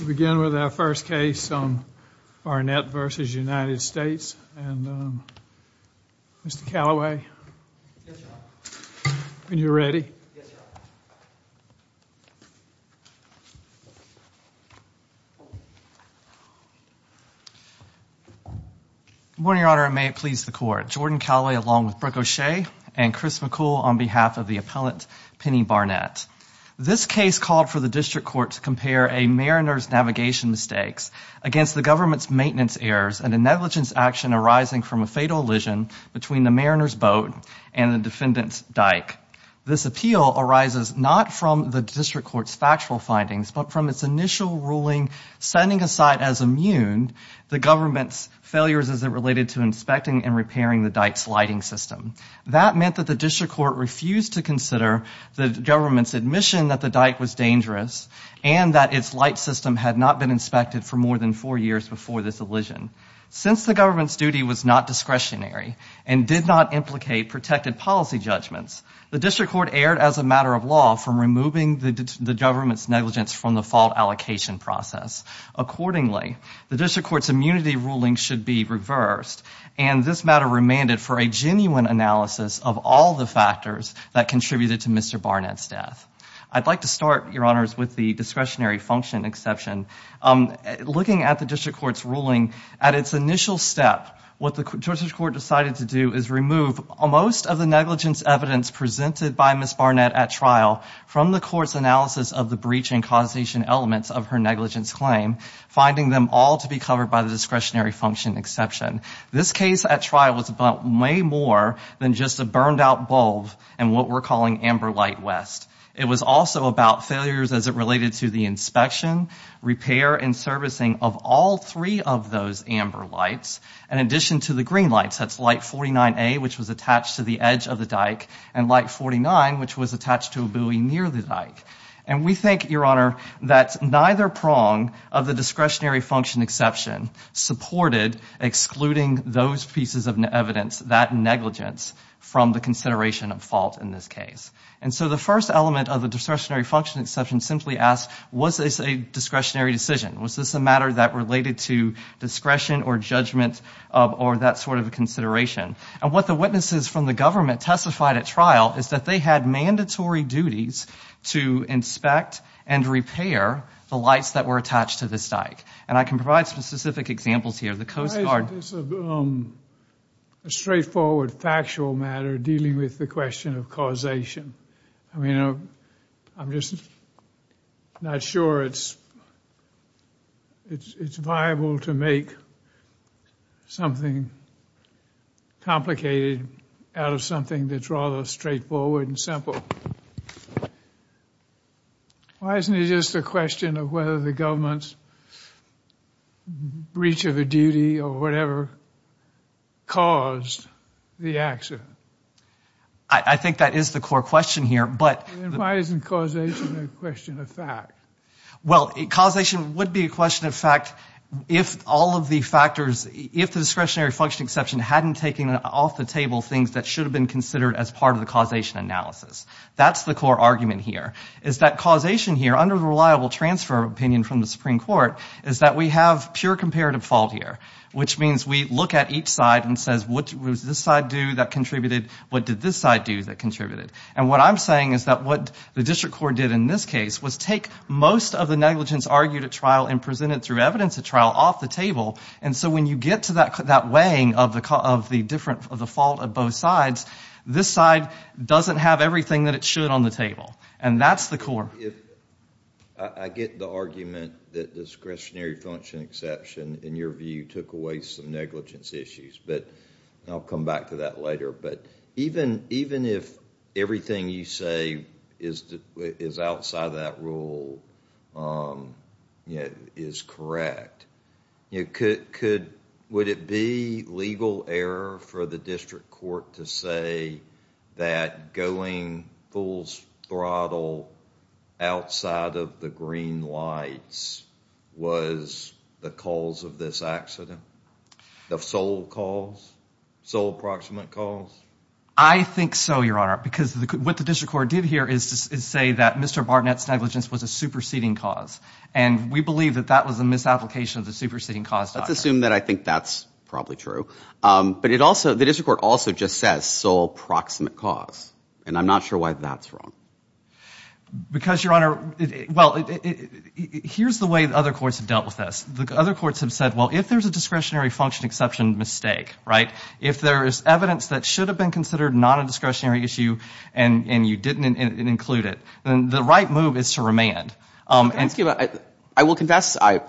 We begin with our first case, Barnett v. United States. Mr. Callaway, when you're ready. Good morning, Your Honor. May it please the Court. Jordan Callaway along with Brooke O'Shea and Chris McCool on behalf of the appellant Penny Barnett. This case called for the District Court to compare a mariner's navigation mistakes against the government's maintenance errors and a negligence action arising from a fatal elision between the mariner's boat and the defendant's dike. This appeal arises not from the District Court's factual findings but from its initial ruling setting aside as immune the government's failures as it related to inspecting and repairing the dike's lighting system. That meant that the District Court refused to the government's admission that the dike was dangerous and that its light system had not been inspected for more than four years before this elision. Since the government's duty was not discretionary and did not implicate protected policy judgments, the District Court erred as a matter of law from removing the government's negligence from the fault allocation process. Accordingly, the District Court's immunity ruling should be reversed and this matter remanded for a genuine analysis of all the factors that contributed to Mr. Barnett's death. I'd like to start, your honors, with the discretionary function exception. Looking at the District Court's ruling, at its initial step, what the District Court decided to do is remove most of the negligence evidence presented by Ms. Barnett at trial from the court's analysis of the breach and causation elements of her negligence claim, finding them all to be covered by the more than just a burned-out bulb and what we're calling amber light West. It was also about failures as it related to the inspection, repair, and servicing of all three of those amber lights, in addition to the green lights. That's light 49A, which was attached to the edge of the dike, and light 49, which was attached to a buoy near the dike. And we think, your honor, that neither prong of the discretionary function exception supported excluding those pieces of evidence, that negligence, from the consideration of fault in this case. And so the first element of the discretionary function exception simply asked, was this a discretionary decision? Was this a matter that related to discretion or judgment or that sort of a consideration? And what the witnesses from the government testified at trial is that they had mandatory duties to inspect and repair the lights that were attached to this dike. And I can provide some specific examples here. The Coast Guard... Why isn't this a straightforward, factual matter dealing with the question of causation? I mean, I'm just not sure it's viable to make something complicated out of something that's rather straightforward and simple. Why isn't it just a question of whether the government's breach of a duty or whatever caused the accident? I think that is the core question here, but... Why isn't causation a question of fact? Well, causation would be a question of fact if all of the factors, if the discretionary function exception hadn't taken off the table things that should have been considered as part of the causation analysis. That's the core argument here, is that causation here, under the reliable transfer opinion from the Supreme Court, is that we have pure comparative fault here, which means we look at each side and say, what did this side do that contributed? What did this side do that contributed? And what I'm saying is that what the district court did in this case was take most of the negligence argued at trial and presented through evidence at trial off the table. And so when you get to that weighing of the fault of both sides, this side doesn't have everything that it should on the table. And that's the core. I get the argument that this discretionary function exception, in your view, took away some negligence issues, but I'll come back to that later, but even if everything you say is outside that rule is correct, would it be legal error for the district court to say that going full throttle outside of the green lights was the cause of this accident, the sole cause, sole proximate cause? I think so, your honor, because what the district court did here is to say that Mr. Barnett's negligence was a superseding cause, and we believe that that was a misapplication of the superseding cause doctrine. Let's assume that I think that's probably true, but it also, the I'm not sure why that's wrong. Because, your honor, well, here's the way the other courts have dealt with this. The other courts have said, well, if there's a discretionary function exception mistake, right, if there is evidence that should have been considered not a discretionary issue and you didn't include it, then the right move is to remand. I will confess I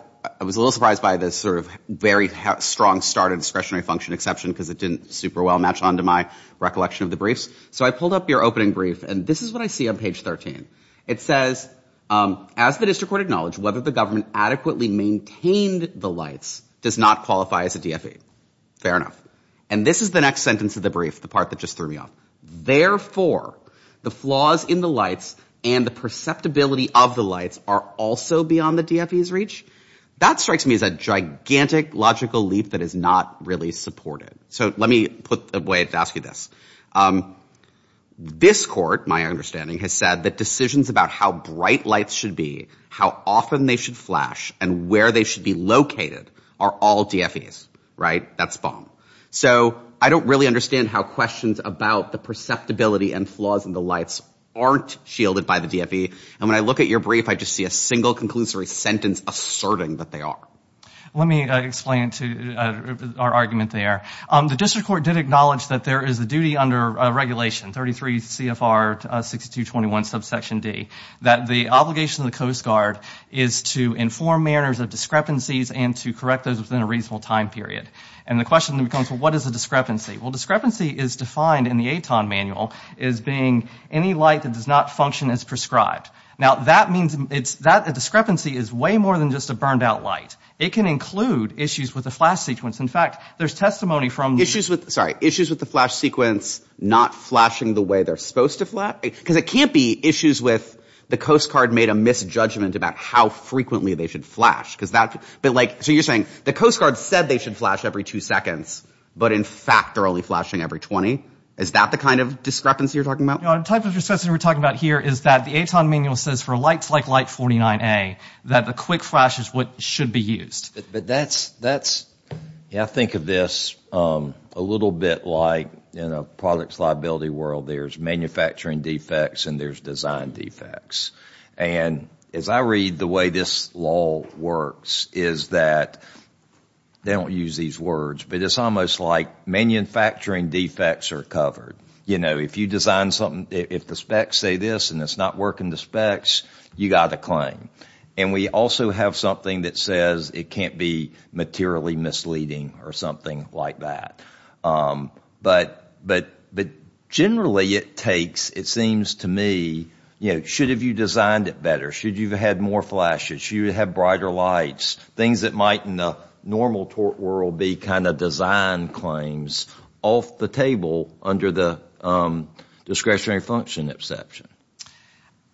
was a little surprised by this sort of very strong start of discretionary function exception because it didn't super well match onto my recollection of the briefs. So I pulled up your opening brief, and this is what I see on page 13. It says, as the district court acknowledged, whether the government adequately maintained the lights does not qualify as a DFE. Fair enough. And this is the next sentence of the brief, the part that just threw me off. Therefore, the flaws in the lights and the perceptibility of the lights are also beyond the DFE's reach? That strikes me as a gigantic logical leap that is not really supported. So let me put a way to ask you this. This court, my understanding, has said that decisions about how bright lights should be, how often they should flash, and where they should be located are all DFE's, right? That's bomb. So I don't really understand how questions about the perceptibility and flaws in the lights aren't shielded by the DFE. And when I look at your brief, I just see a single conclusory sentence asserting that they are. Let me explain to our argument there. The district court did acknowledge that there is a duty under Regulation 33 CFR 6221 subsection D that the obligation of the Coast Guard is to inform manners of discrepancies and to correct those within a reasonable time period. And the question becomes, well, what is a discrepancy? Well, discrepancy is defined in the ATON manual as being any light that does not function as prescribed. Now that means that a discrepancy is way more than just a burned-out light. It can include issues with the flash sequence. In fact, there's testimony from the... Issues with, sorry, issues with the flash sequence not flashing the way they're supposed to flash? Because it can't be issues with the Coast Guard made a misjudgment about how frequently they should flash. Because that, but like, so you're saying the Coast Guard said they should flash every two seconds, but in fact they're only flashing every 20? Is that the kind of discrepancy you're talking about? The type of discrepancy we're talking about here is that the ATON manual says for lights like light 49A, that the quick flash is what should be used. But that's, that's, yeah, I think of this a little bit like, in a product liability world, there's manufacturing defects and there's design defects. And as I read the way this law works is that, they don't use these words, but it's almost like manufacturing defects are covered. You know, if you design something, if the specs say this and it's not working the specs, you got a claim. And we also have something that says it can't be materially misleading or something like that. But, but, but generally it takes, it seems to me, you know, should have you designed it better? Should you have had more flashes? Should you have brighter lights? Things that might in the normal tort world be kind of design claims off the table under the discretionary function exception.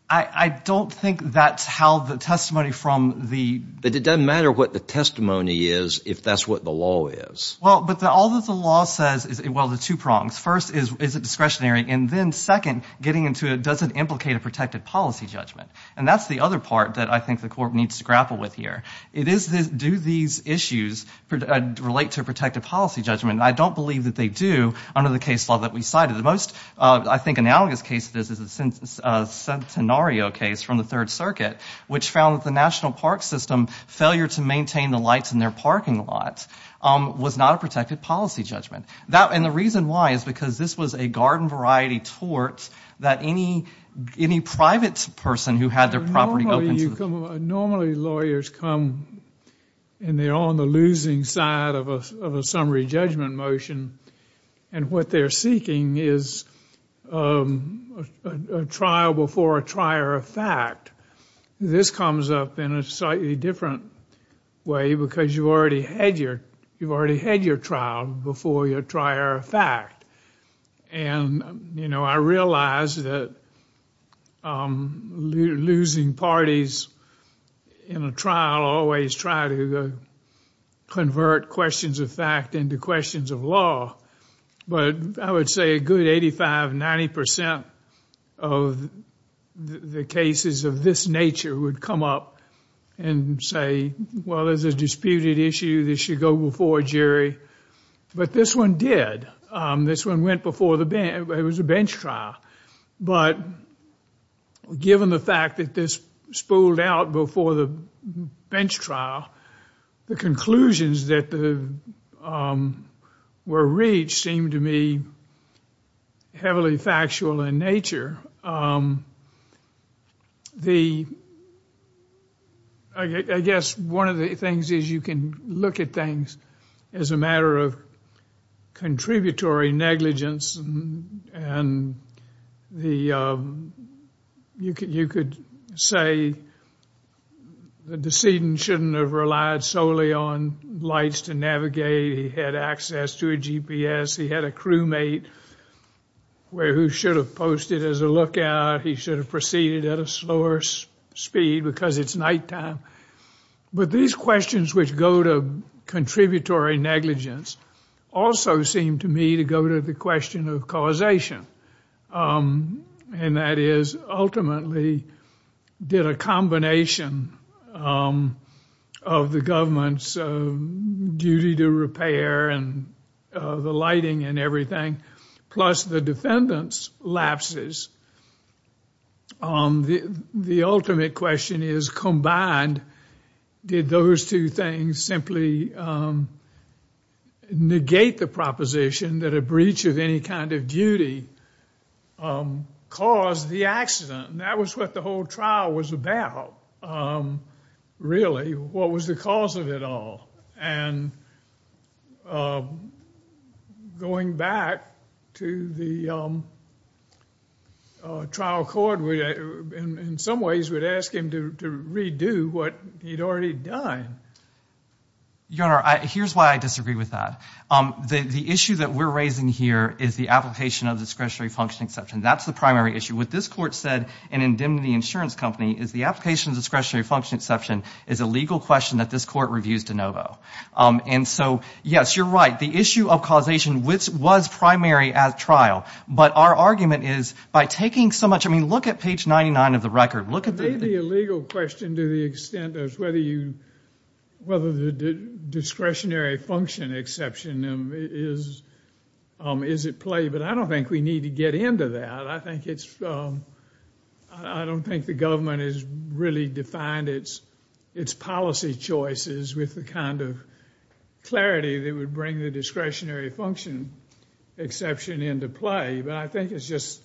I, I don't think that's how the testimony from the... But it doesn't matter what the testimony is if that's what the law is. Well, but all that the law says is, well, the two prongs. First is, is it discretionary? And then second, getting into it, does it implicate a protected policy judgment? And that's the other part that I think the court needs to grapple with here. It is this, do these issues relate to a protected policy judgment? I don't believe that they do under the case law that we cited. The most, I think, analogous case it is, is a Centenario case from the Third Circuit, which found that the National Park System failure to maintain the lights in their parking lot was not a protected policy judgment. That, and the reason why is because this was a garden variety torts that any, any private person who had their property... Normally lawyers come and they're on the losing side of a summary judgment motion, and what they're seeking is a trial before a trier of fact. This comes up in a slightly different way because you've already had your, you've already had your trial before your trier of fact. And, you know, I realize that losing parties in a trial always try to convert questions of fact into questions of law, but I would say a good 85-90% of the cases of this nature would come up and say, well, there's a disputed issue, this should go before a jury, but this one did. This one went before the bench, it was a bench trial, but given the fact that this spooled out before the bench trial, the conclusions that were reached seemed to me heavily factual in nature. The, I guess one of the things is you can look at things as a matter of contributory negligence and the, you could say the decedent shouldn't have relied solely on lights to navigate, he had access to a GPS, he had a crewmate where who should have posted as a lookout, he should have proceeded at a slower speed because it's nighttime. But these questions which go to contributory negligence also seem to me to go to the question of causation, and that is ultimately did a combination of the government's duty to repair and the lighting and everything, plus the defendant's lapses, the ultimate question is combined did those two things simply negate the proposition that a breach of any kind of duty caused the accident? That was what the whole going back to the trial court in some ways would ask him to redo what he'd already done. Your Honor, here's why I disagree with that. The issue that we're raising here is the application of discretionary function exception. That's the primary issue. What this court said in indemnity insurance company is the application of discretionary function exception is a legal question that this court reviews de novo. And so, yes, you're right, the issue of causation was primary at trial, but our argument is by taking so much, I mean look at page 99 of the record. It may be a legal question to the extent of whether the discretionary function exception is at play, but I don't think we need to get into that. I don't think the government has really defined its policy choices with the kind of clarity that would bring the discretionary function exception into play, but I think it's just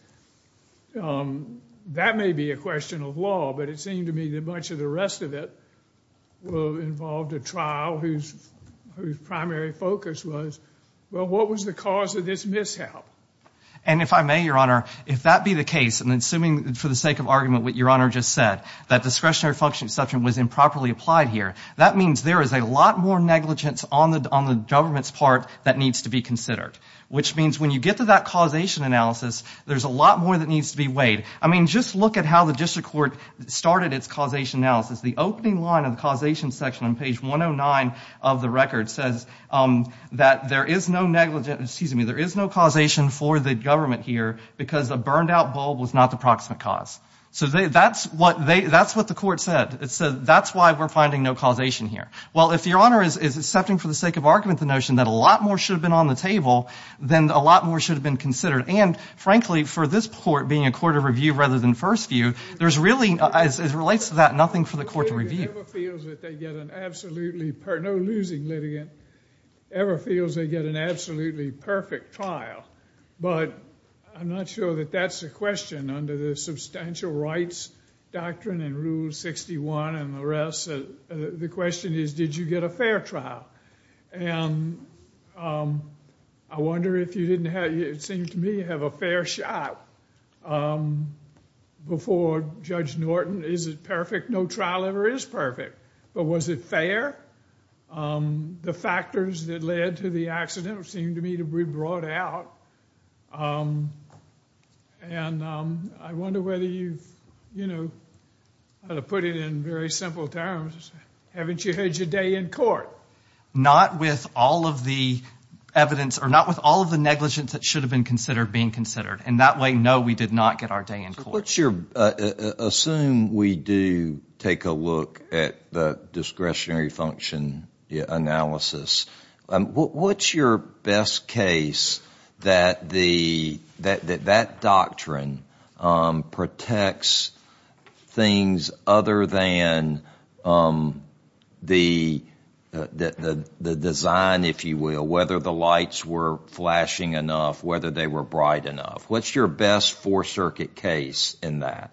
that may be a question of law, but it seemed to me that much of the rest of it will involve the trial whose primary focus was, well, what was the cause of this mishap? And if I may, Your Honor, if that be the case, and assuming for the sake of argument what Your Honor just said, that discretionary function exception was improperly applied here, that means there is a lot more negligence on the government's part that needs to be considered, which means when you get to that causation analysis, there's a lot more that needs to be weighed. I mean, just look at how the district court started its causation analysis. The opening line of the causation section on page 109 of the record says that there is no negligent, excuse me, there is no causation for the government here because a burned-out bulb was not the proximate cause. So that's what they, that's what the court said. It said that's why we're finding no causation here. Well, if Your Honor is accepting for the sake of argument the notion that a lot more should have been on the table, then a lot more should have been considered, and frankly, for this court being a court of review rather than first view, there's really, as it relates to that, nothing for the court to review. No losing litigant ever feels they get an absolutely perfect trial, but I'm not sure that that's a question under the substantial rights doctrine and Rule 61 and the rest. The question is, did you get a fair trial? And I wonder if you didn't have, it seemed to me, have a fair shot before Judge Norton. Is it perfect? No trial ever is perfect, but was it fair? The factors that led to the accident seem to me to be brought out, and I wonder whether you've, you know, I'll put it in very simple terms, haven't you had your day in court? Not with all of the evidence, or not with all of the negligence that should have been considered being considered, and that way, no, we did not get our day in court. Assume we do take a look at the discretionary function analysis. What's your best case that that doctrine protects things other than the design, if you will, whether the lights were flashing enough, whether they were bright enough? What's your best Fourth Circuit case in that?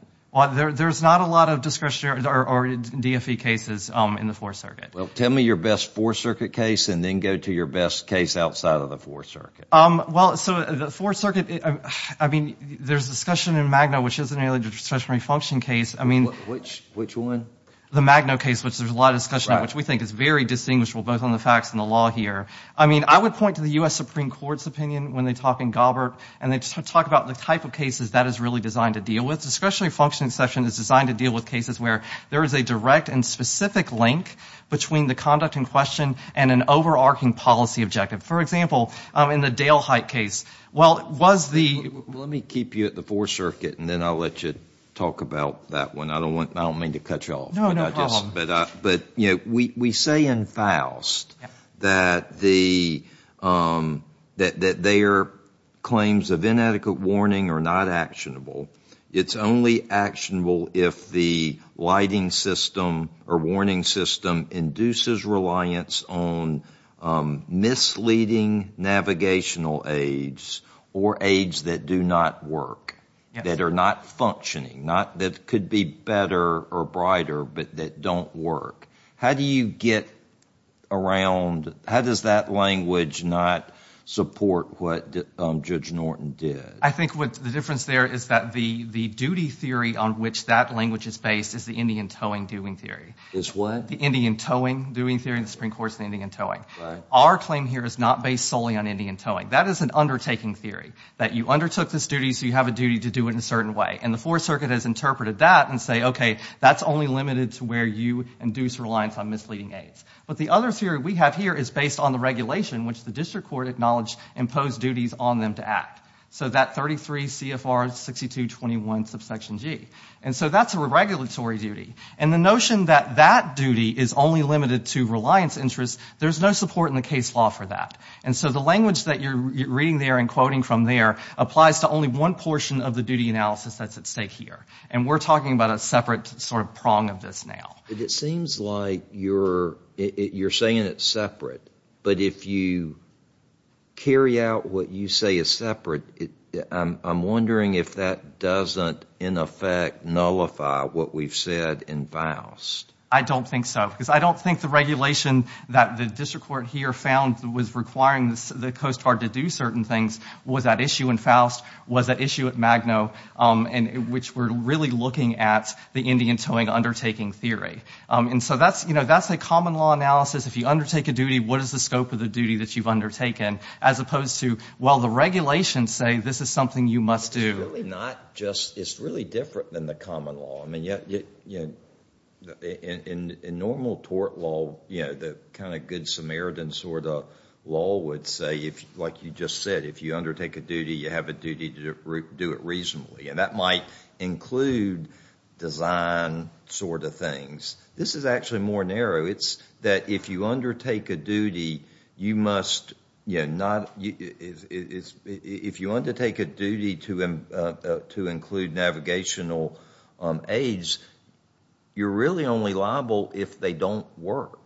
There's not a lot of discretionary or DFE cases in the Fourth Circuit. Well, tell me your best Fourth Circuit case, and then go to your best case outside of the Fourth Circuit. Well, so the Fourth Circuit, I mean, there's discussion in Magno, which is a discretionary function case. I mean, which which one? The Magno case, which there's a lot of discussion, which we think is very distinguishable, both on the facts and the law here. I mean, I would point to the U.S. Supreme Court's opinion when they talk in Gobbert, and they just talk about the type of cases that is really designed to deal with. Discretionary functioning section is designed to deal with cases where there is a direct and specific link between the conduct in question and an overarching policy objective. For example, in the Dale Height case, well, was the... Let me keep you at the Fourth Circuit, and then I'll let you talk about that one. I don't want, I don't mean to cut you off. No, no problem. But, you know, we say in Faust that the, that their claims of inadequate warning are not actionable. It's only actionable if the lighting system or warning system induces reliance on misleading navigational aids or aids that do not work, that are not functioning, not that could be better or brighter, but that don't work. How do you get around, how does that language not support what Judge Norton did? I think what the difference there is that the, the duty theory on which that language is based is the Indian towing doing theory. It's what? The Indian towing doing theory in the Supreme Court's the Indian towing. Our claim here is not based solely on Indian towing. That is an undertaking theory, that you undertook this duty so you have a duty to do it in a certain way, and the Fourth Circuit has interpreted that and say, okay, that's only limited to where you induce reliance on misleading aids. But the other theory we have here is based on the regulation which the District Court acknowledged imposed duties on them to act. So that 33 CFR 6221 subsection G. And so that's a regulatory duty. And the notion that that duty is only limited to reliance interest, there's no support in the case law for that. And so the language that you're reading there and quoting from there applies to only one portion of the duty analysis that's at stake here. And we're talking about a separate sort of prong of this now. It seems like you're, you're saying it's separate, but if you carry out what you say is separate, I'm wondering if that doesn't in effect nullify what we've said in Faust. I don't think so, because I don't think the regulation that the District Court here found was requiring the Coast Guard to do certain things was that issue in Faust, was that issue at Magno, and which we're really looking at the Indian towing undertaking theory. And so that's, you know, that's a common law analysis if you undertake a duty, what is the scope of the duty that you've undertaken, as opposed to, well, the regulations say this is something you must do. It's really different than the common law. I mean, in normal tort law, you know, the kind of Good Samaritan sort of law would say, like you just said, if you undertake a duty, you have a duty to do it reasonably. And that might include design sort of things. This is actually more narrow. It's that if you undertake a duty, you must, you know, if you undertake a duty to include navigational aides, you're really only liable if they don't work.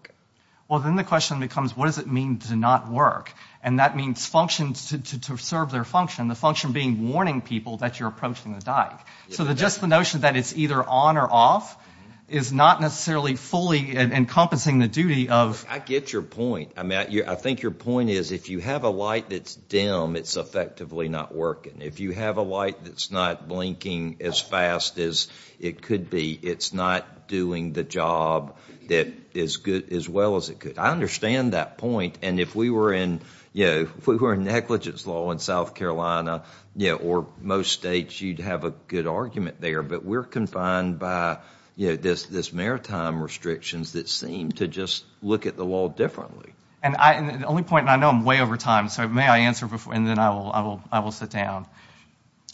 Well, then the question becomes, what does it mean to not work? And that means functions to serve their function, the function being warning people that you're approaching the dive. So just the notion that it's either on or off is not necessarily fully encompassing the duty of... I get your point. I mean, I think your point is if you have a light that's dim, it's effectively not working. If you have a light that's not blinking as fast as it could be, it's not doing the job that is good as well as it could. I understand that point, and if we were in, you know, if we were in negligence law in South Carolina, you know, or most states, you'd have a good argument there, but we're confined by, you know, this maritime restrictions that seem to just look at the wall differently. And the only point, and I know I'm way over time, so may I answer before, and then I will sit down.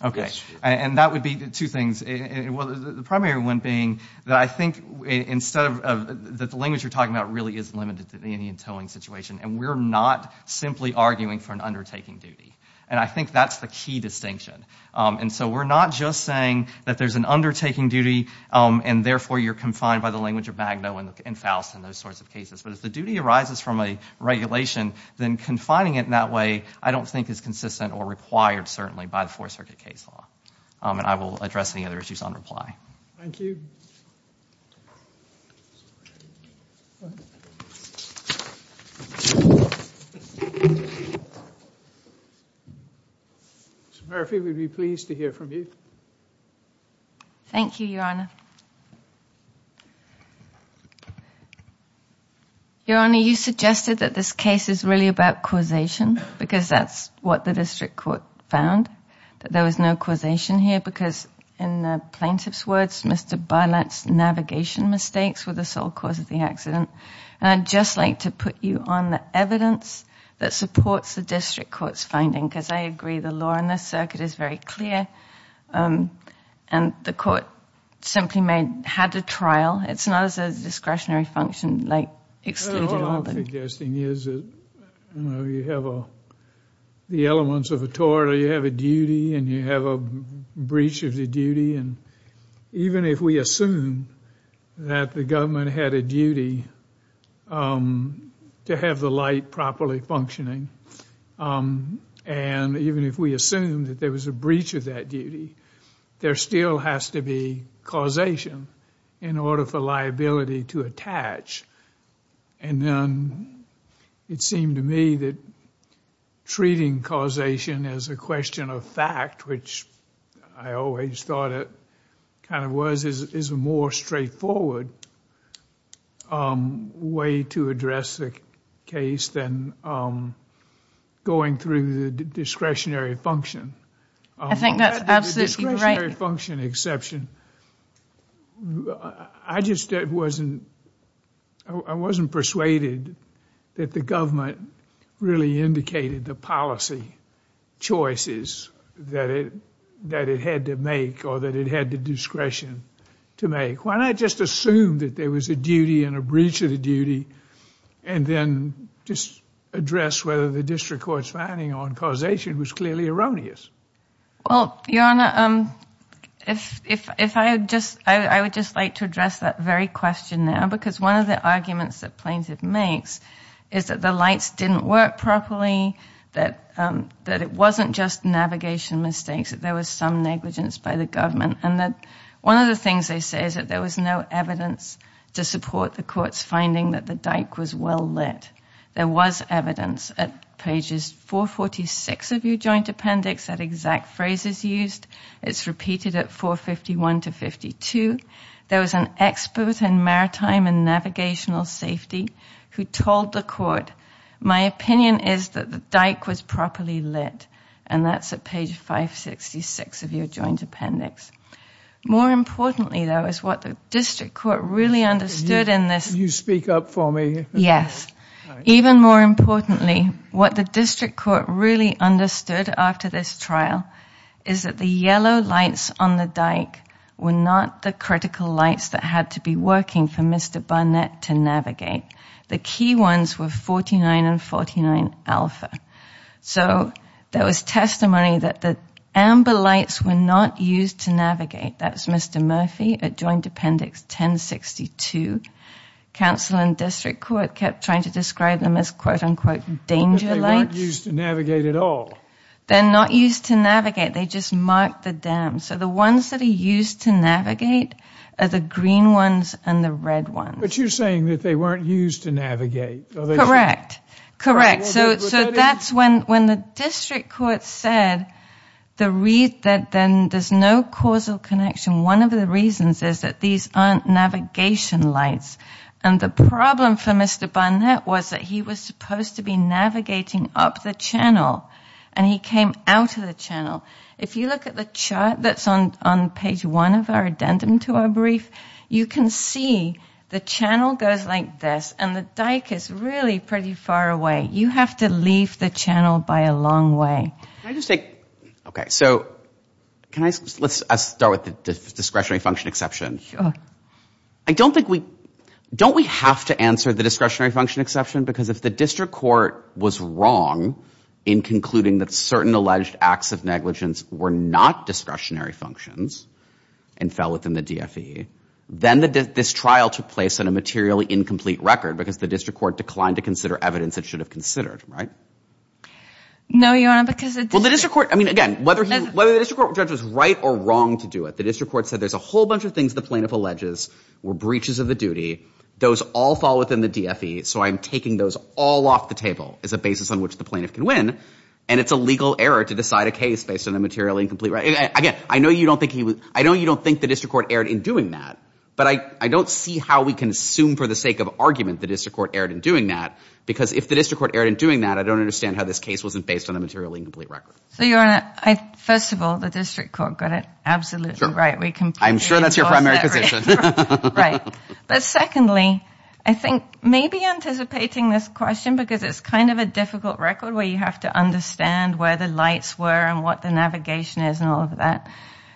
Okay, and that would be two things. Well, the primary one being that I think instead of, that the language you're talking about really is limited to the Indian towing situation, and we're not simply arguing for an undertaking duty. And I think that's the key distinction. And so we're not just saying that there's an undertaking duty, and therefore you're confined by the language of Magno and Faust and those sorts of cases. But if the duty arises from a regulation, then confining it in that way I don't think is consistent or required, certainly, by the Fourth Circuit case law. And I will address any other issues on reply. Mr. Murphy, we'd be pleased to hear from you. Thank you, Your Honor. Your Honor, you suggested that this case is really about causation, because that's what the District Court found, that there was no causation here, because in the plaintiff's words, Mr. Bylatt's navigation mistakes were the sole cause of the accident. And I'd just like to put you on the evidence that supports the District Court's finding, because I agree the law in this circuit is very clear, and the court simply had to trial. It's not as a discretionary function, like excluded or open. What I'm suggesting is that you have the elements of a tort, or you have a duty, and you have a breach of the duty, and even if we assume that the government had a And even if we assume that there was a breach of that duty, there still has to be causation in order for liability to attach. And then it seemed to me that treating causation as a question of fact, which I always thought it kind of was, is a discretionary function. I think that's absolutely right. Discretionary function exception. I just wasn't, I wasn't persuaded that the government really indicated the policy choices that it had to make, or that it had the discretion to make. Why not just assume that there was a duty and a breach of the duty, and then just address whether the District Court's finding on causation was clearly erroneous. Well, Your Honor, if I just, I would just like to address that very question now, because one of the arguments that plaintiff makes is that the lights didn't work properly, that it wasn't just navigation mistakes, that there was some negligence by the government, and that one of the things they say is that there was no evidence to support the court's finding that the dike was well lit. There was evidence at pages 446 of your joint appendix that exact phrases used. It's repeated at 451 to 52. There was an expert in maritime and navigational safety who told the court, my opinion is that the dike was properly lit, and that's at page 566 of your joint appendix. More importantly, though, is what the District Court really understood in this. You speak up for me. Yes. Even more importantly, what the District Court really understood after this trial is that the yellow lights on the dike were not the critical lights that had to be working for Mr. Barnett to navigate. The key ones were 49 and 49 alpha. So there was testimony that the amber lights were not used to navigate. That's Mr. Murphy at Joint Appendix 1062. Council and District Court kept trying to describe them as quote-unquote danger lights. But they weren't used to navigate at all. They're not used to navigate. They just marked the dam. So the ones that are used to navigate are the green ones and the red ones. But you're saying that they weren't used to navigate. Correct. Correct. So that's when the District Court said that there's no causal connection. One of the reasons is that these aren't navigation lights. And the problem for Mr. Barnett was that he was supposed to be navigating up the channel, and he came out of the channel. If you look at the chart that's on page 1 of our addendum to our brief, you can see the channel goes like this, and the dike is really pretty far away. You have to leave the channel by a long way. Let's start with the discretionary function exception. Don't we have to answer the discretionary function exception? Because if the District Court was wrong in concluding that certain alleged acts of negligence were not discretionary functions and fell within the DFE, then this trial took place on a materially incomplete record because the District Court declined to consider evidence it should have considered, right? No, Your Honor, because... Well, the District Court, I mean, again, whether the District Court judge was right or wrong to do it, the District Court said there's a whole bunch of things the plaintiff alleges were breaches of the duty. Those all fall within the DFE, so I'm taking those all off the table as a basis on which the plaintiff can win, and it's a legal error to decide a case based on a materially incomplete record. Again, I know you don't think he was... I know you don't think the District Court erred in doing that, but I don't see how we can assume for the sake of argument the District Court erred in doing that, because if the District Court erred in doing that, I don't understand how this case wasn't based on a materially incomplete record. So, Your Honor, first of all, the District Court got it absolutely right. I'm sure that's your primary position. Right, but secondly, I think maybe anticipating this question because it's kind of a difficult record where you have to understand where the lights were and what the navigation is and all of that,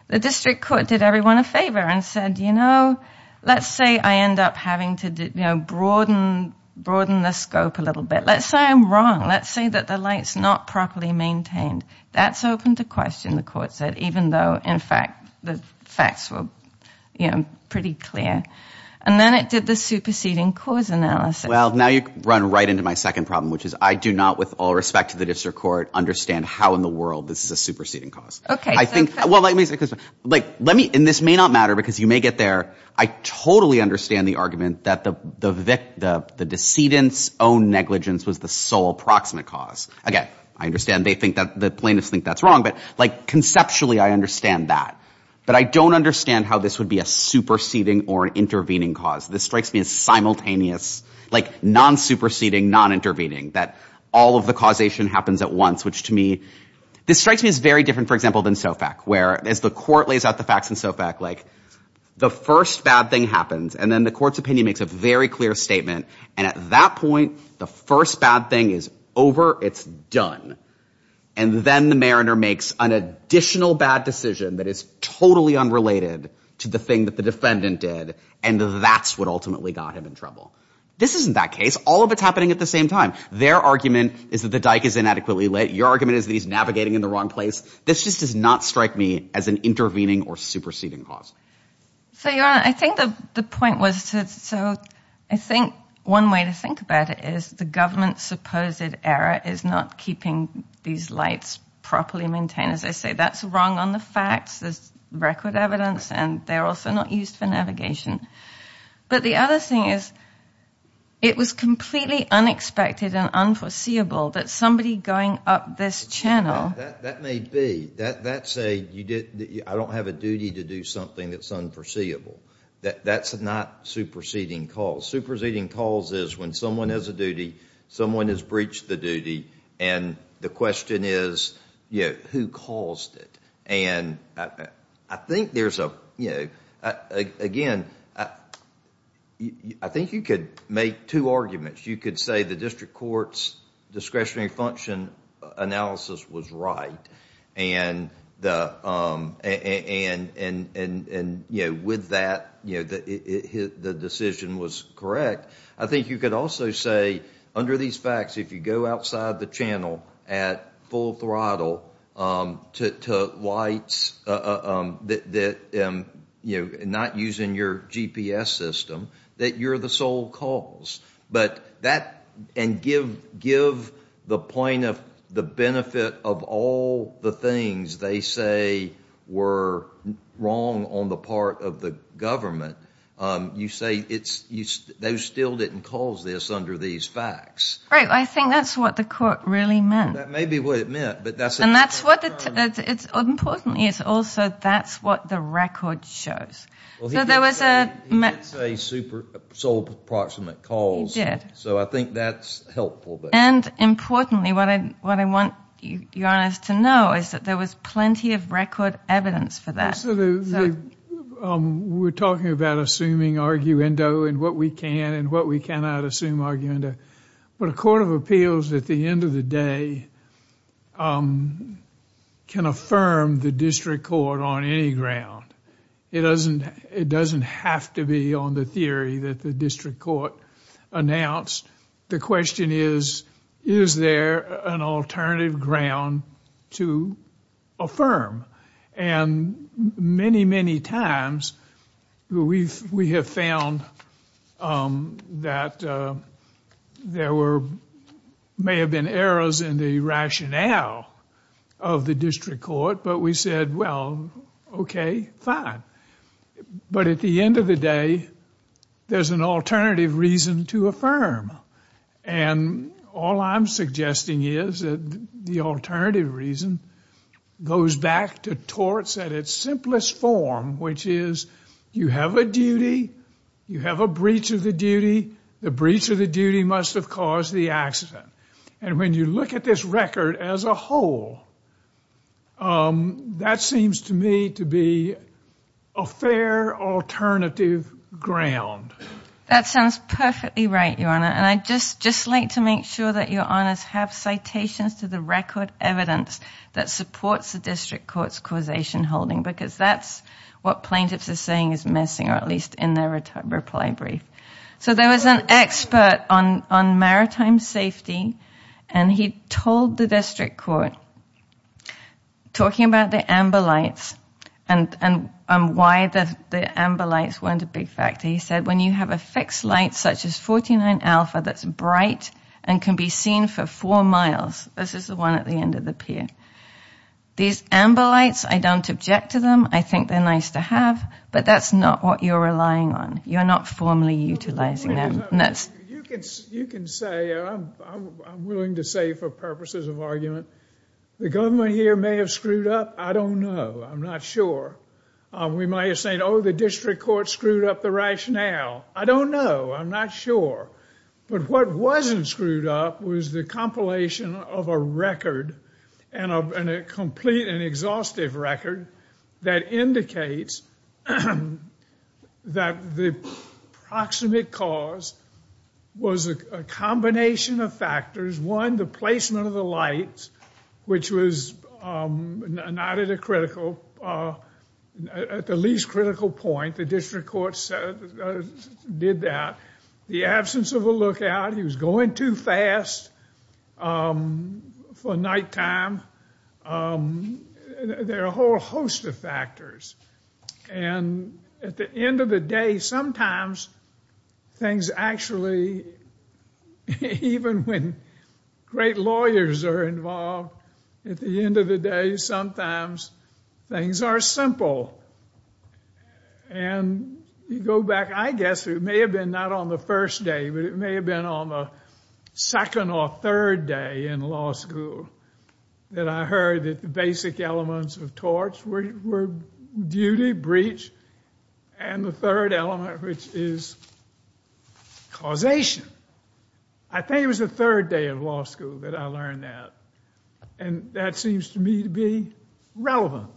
the District Court did everyone a favor and said, you know, let's say I end up having to, you know, broaden the scope a little bit. Let's say I'm wrong. Let's say that the light's not properly maintained. That's open to question, the court said, even though, in fact, the facts were, you know, pretty clear. And then it did the superseding cause analysis. Well, now you run right into my second problem, which is I do not, with all respect to the District Court, understand how in the world this is a superseding cause. Okay. I think, well, like, let me, and this may not matter because you may get there, I totally understand the argument that the the decedent's own negligence was the sole approximate cause. Again, I understand they think that the plaintiffs think that's wrong, but like conceptually I understand that. But I don't understand how this would be a superseding or an intervening cause. This strikes me as simultaneous, like non-superseding, non-intervening, that all of the causation happens at once, which to me, this strikes me as very different, for example, than SOFAC, where as the court lays out the facts in SOFAC, like, the first bad thing happens, and then the court's opinion makes a very clear statement, and at that point, the first bad thing is over, it's done. And then the mariner makes an additional bad decision that is totally unrelated to the thing that the defendant did, and that's what ultimately got him in trouble. This isn't that case. All of it's happening at the same time. Their argument is that the dike is inadequately lit. Your argument is that he's navigating in the wrong place. This just does not strike me as an intervening or superseding cause. So, Your Honor, I think the point was to, so I think one way to think about it is the government's supposed error is not keeping these lights properly maintained. As I say, that's wrong on the facts, there's record evidence, and they're also not used for navigation. But the other thing is, it was completely unexpected and unforeseeable that somebody going up this channel. That may be. That's a, I don't have a duty to do something that's unforeseeable. That's not superseding cause. Superseding cause is when someone has a duty, someone has breached the duty, and the question is, you know, who caused it? And I think there's a, you know, again, I think you could make two arguments. You could say the district court's discretionary function analysis was right, and, you know, with that, you know, the decision was correct. I think you could also say, under these facts, if you go outside the channel at full throttle to lights that, you know, not using your GPS system, that you're the sole cause. But that, and give the point of the benefit of all the things they say were wrong on the part of the government, you say it's, they still didn't cause this under these facts. Right, I think that's what the court really meant. That may be what it meant, but that's. And that's what it's, importantly, it's also that's what the record shows. So there was a. He did say sole proximate cause. He did. So I think that's helpful. And importantly, what I what I want your Honor to know is that there was plenty of record evidence for that. So we're talking about assuming arguendo and what we can and what we cannot assume arguendo. But a court of appeals, at the end of the day, can affirm the district court on any ground. It doesn't, it doesn't have to be on the theory that the district court announced. The question is, is there an alternative ground to affirm? And many, many times we've, we have found that there were, may have been errors in the rationale of the district court, but we said, well, okay, fine. But at the end of the day, there's an alternative reason to affirm. And all I'm suggesting is that the alternative reason goes back to torts at its simplest form, which is you have a duty, you have a breach of the duty, the breach of the duty must have caused the accident. And when you look at this record as a whole, that seems to me to be a fair alternative ground. That sounds perfectly right, Your Honor. And I just, just like to make sure that Your Honors have citations to the record evidence that supports the district court's causation holding, because that's what plaintiffs are saying is missing, or at least in their reply brief. So there was an expert on, on maritime safety, and he told the district court, talking about the amber lights and, and why the, the amber lights weren't a big factor. He said, when you have a fixed light, such as 49 alpha, that's bright and can be seen for four miles, this is the one at the end of the peer. These amber lights, I don't object to them. I think they're nice to have, but that's not what you're relying on. You're not formally utilizing them. You can, you can say, I'm willing to say for purposes of argument, the government here may have screwed up. I don't know. I'm not sure. We might have said, oh, the district court screwed up the rationale. I don't know. I'm not sure. But what wasn't screwed up was the compilation of a record, and a complete and exhaustive record, that indicates that the proximate cause was a combination of factors. One, the placement of the lights, which was not at a critical point. The district court said, did that. The absence of a lookout. He was going too fast for nighttime. There are a whole host of factors. And at the end of the day, sometimes things actually, even when great lawyers are involved, at the And you go back, I guess it may have been not on the first day, but it may have been on the second or third day in law school that I heard that the basic elements of torts were duty, breach, and the third element, which is causation. I think it was the third day of law school that I learned that. And that seems to me to be relevant.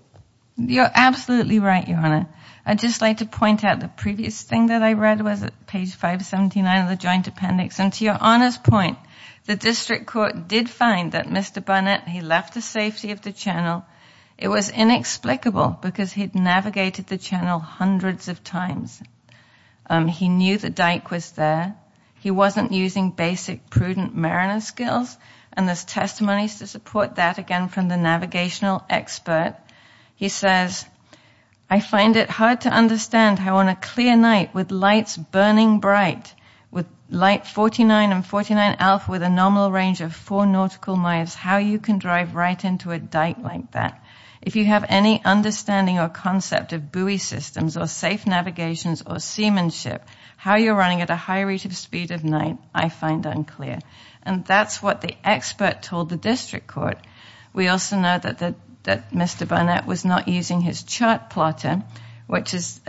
You're absolutely right, Your Honor. I'd just like to point out the previous thing that I read was at page 579 of the joint appendix. And to Your Honor's point, the district court did find that Mr. Burnett, he left the safety of the channel. It was inexplicable, because he'd navigated the channel hundreds of times. He knew that Dyke was there. He wasn't using basic prudent mariner skills. And there's testimonies to support that, again, from the navigational expert. He says, I find it hard to understand how on a clear night, with lights burning bright, with light 49 and 49 alpha, with a nominal range of four nautical miles, how you can drive right into a dyke like that. If you have any understanding or concept of buoy systems, or safe navigations, or seamanship, how you're running at a high rate of speed at night, I find unclear. And that's what the expert told the district court. We also know that Mr. Burnett was not using his chart plotter, which is,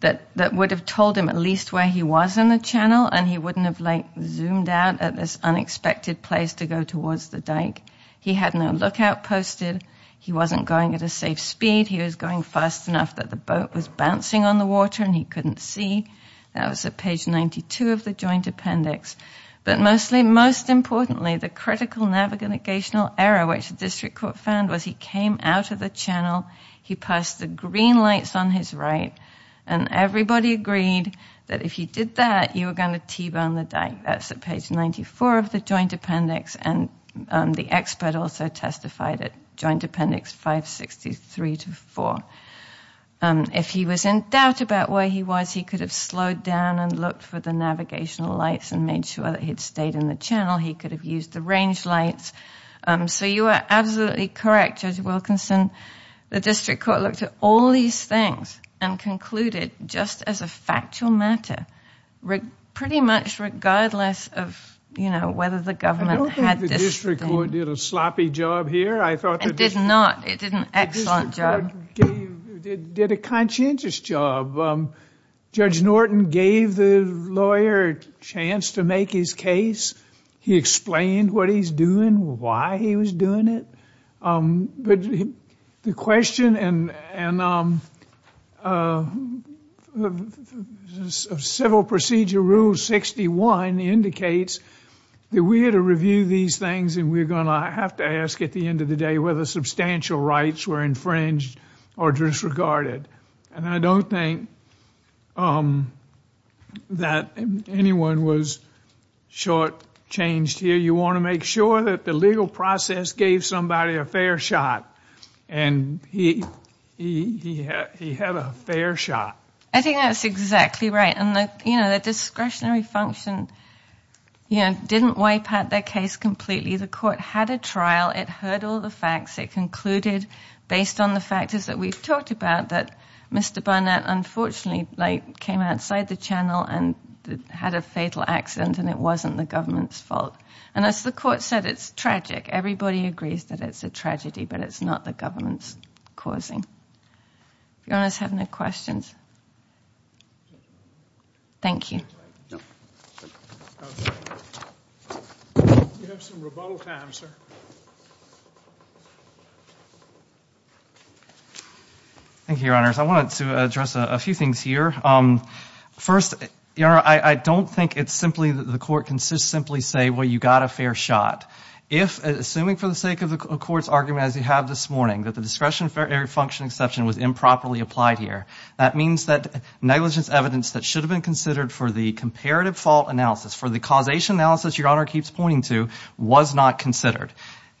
that would have told him at least where he was in the channel, and he wouldn't have, like, zoomed out at this unexpected place to go towards the dyke. He had no lookout posted. He wasn't going at a safe speed. He was going fast enough that the boat was bouncing on the water, and he couldn't see. That was at page 92 of the joint appendix. But mostly, most importantly, the critical navigational error, which the district court found, was he came out of the channel, he passed the green lights on his right, and everybody agreed that if he did that, you were going to T-burn the dyke. That's at page 94 of the joint appendix, and the expert also testified at joint appendix 563-4. If he was in doubt about where he was, he could have slowed down and looked for the navigational lights and made sure that he'd stayed in the channel. He could have used the range lights. So you are absolutely correct, Judge Wilkinson. The district court looked at all these things and concluded, just as a factual matter, pretty much regardless of, you know, did a sloppy job here. I thought... It did not. It did an excellent job. It did a conscientious job. Judge Norton gave the lawyer a chance to make his case. He explained what he's doing, why he was doing it. But the question of Civil Procedure Rule 61 indicates that we had to review these things, and we're going to have to ask at the end of the day whether substantial rights were infringed or disregarded. And I don't think that anyone was shortchanged here. You want to make sure that the legal process gave somebody a fair shot, and he had a fair shot. I think that's exactly right, and that, you know, that discretionary function, you know, didn't wipe out their case completely. The court had a trial. It heard all the facts. It concluded, based on the factors that we've talked about, that Mr. Barnett unfortunately, like, came outside the channel and had a fatal accident, and it wasn't the government's fault. And as the court said, it's tragic. Everybody agrees that it's a tragedy, but it's not the government's causing. You guys have any questions? Thank you. Thank you, Your Honors. I wanted to address a few things here. First, Your Honor, I don't think it's simply that the court can just simply say, well, you got a fair shot. If, assuming for the sake of the court's argument, as you have this morning, that the discretionary function exception was improperly applied here, that means that negligence evidence that should have been considered for the comparative fault analysis, for the causation analysis Your Honor keeps pointing to, was not considered.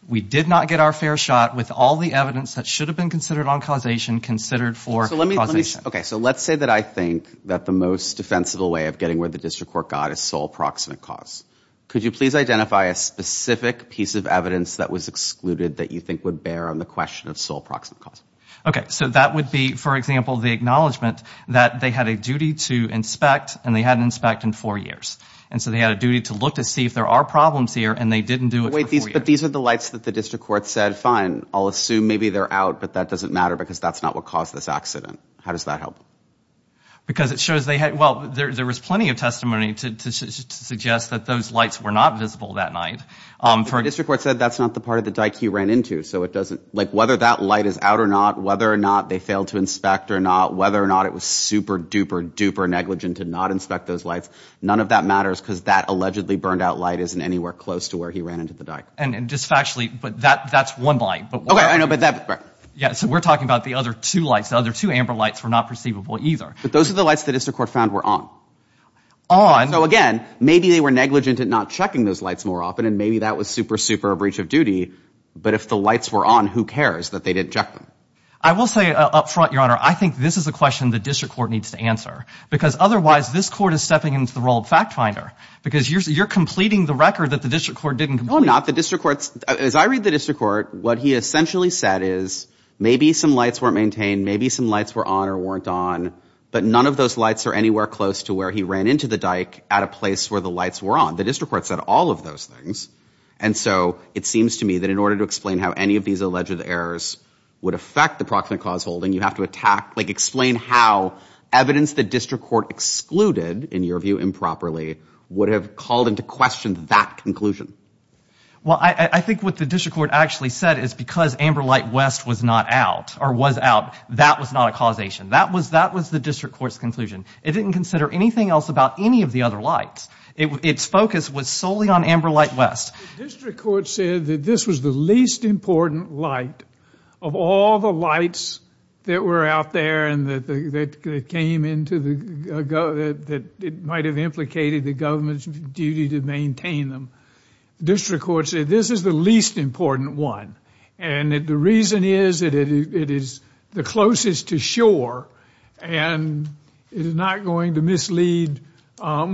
We did not get our fair shot with all the evidence that should have been considered on causation considered for causation. Okay, so let's say that I think that the most defensible way of getting where the district court got is sole proximate cause. Could you please identify a specific piece of evidence that was excluded that you think would bear on the question of sole proximate cause? Okay, so that would be, for example, the acknowledgment that they had a duty to inspect and they hadn't inspect in four years. And so they had a duty to look to see if there are problems here and they didn't do it. Wait, but these are the lights that the district court said, fine, I'll assume maybe they're out, but that doesn't matter because that's not what caused this accident. How does that help? Because it shows they had, well, there was plenty of testimony to suggest that those lights were not visible that night. The district court said that's not the part of the dyke you ran into, so it doesn't, like, whether that light is out or not, whether or not they failed to inspect or not, whether or not it was super duper duper negligent to not inspect those lights, none of that matters because that allegedly burned out light isn't anywhere close to where he ran into the dyke. And just factually, but that that's one light. Okay, I know, but that. Yeah, so we're talking about the other two lights, the other two amber lights were not perceivable either. But those are the lights the district court found were on. On. So again, maybe they were negligent at not checking those lights more often and maybe that was super super breach of duty. But if the lights were on, who cares that they didn't check them? I will say up front, Your Honor, I think this is a question the district court needs to answer because otherwise this court is stepping into the role of fact finder because you're completing the record that the district court didn't complete. No, I'm not. The district court, as I read the district court, what he essentially said is maybe some lights weren't maintained, maybe some lights were on or weren't on, but none of those lights are anywhere close to where he ran into the dyke at a place where the lights were on. The district court said all of those things. And so it seems to me that in order to explain how any of these alleged errors would affect the proximate cause holding, you have to attack, like explain how evidence the district court excluded, in your view improperly, would have called into question that conclusion. Well, I think what the district court actually said is because amber light West was not out or was out, that was not a causation. That was, that was the district court's conclusion. It didn't consider anything else about any of the other lights. Its focus was solely on amber light West. The district court said that this was the least important light of all the lights that were out there and that came into the, that might have implicated the government's duty to maintain them. The district court said this is the least important one and that the reason is that it is the closest to shore and it is not going to mislead a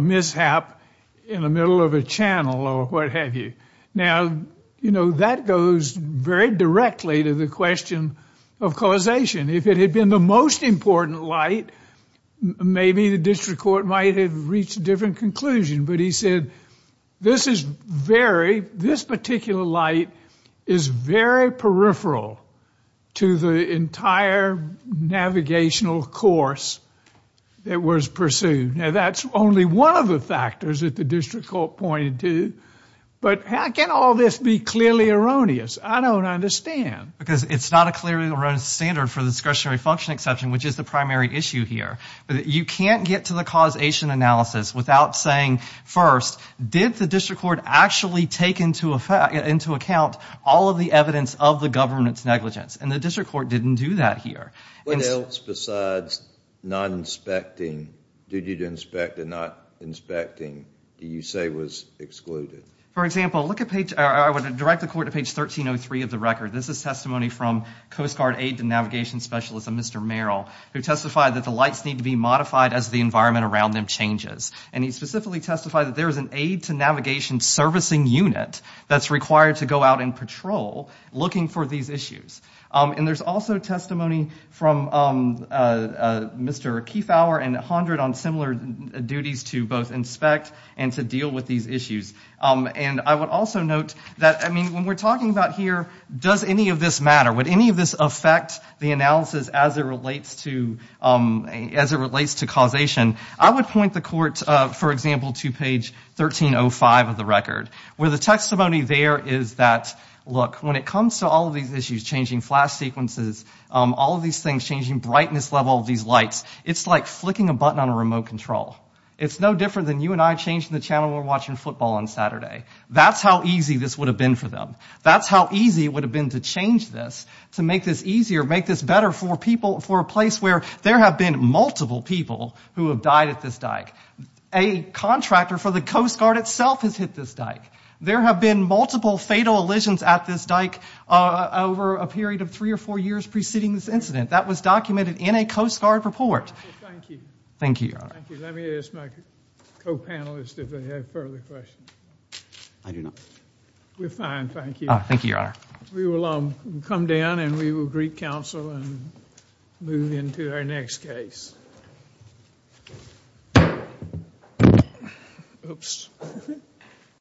mishap in the middle of a channel or what have you. Now, you know, that goes very directly to the question of causation. If it had been the most important light, maybe the district court might have reached a different conclusion. But he said this is very, this is peripheral to the entire navigational course that was pursued. Now, that's only one of the factors that the district court pointed to. But how can all this be clearly erroneous? I don't understand. Because it's not a clearly erroneous standard for discretionary function exception, which is the primary issue here. You can't get to the causation analysis without saying, first, did the take into account all of the evidence of the government's negligence? And the district court didn't do that here. What else besides not inspecting, duty to inspect and not inspecting, do you say was excluded? For example, look at page, I would direct the court to page 1303 of the record. This is testimony from Coast Guard Aid to Navigation Specialist, Mr. Merrill, who testified that the lights need to be modified as the environment around them changes. And he specifically testified that there is an aid to navigation servicing unit that's required to go out in patrol looking for these issues. And there's also testimony from Mr. Kiefauer and Hondred on similar duties to both inspect and to deal with these issues. And I would also note that, I mean, when we're talking about here, does any of this matter? Would any of this affect the analysis as it relates to causation? I would point the court, for example, to page 1305 of the record, where the testimony there is that, look, when it comes to all of these issues, changing flash sequences, all of these things, changing brightness level of these lights, it's like flicking a button on a remote control. It's no different than you and I changing the channel we're watching football on Saturday. That's how easy this would have been for them. That's how easy it would have been to change this, to make this easier, make this better for people, for a place where there have been multiple people who have died at this dike. A contractor for the Coast Guard itself has hit this dike. There have been multiple fatal elisions at this dike over a period of three or four years preceding this incident. That was documented in a Coast Guard report. Thank you. Thank you. Thank you. Let me ask my co-panelists if they have further questions. I do not. We're fine, thank you. Thank you, your honor. We will come down and we will re-counsel and move into our next case.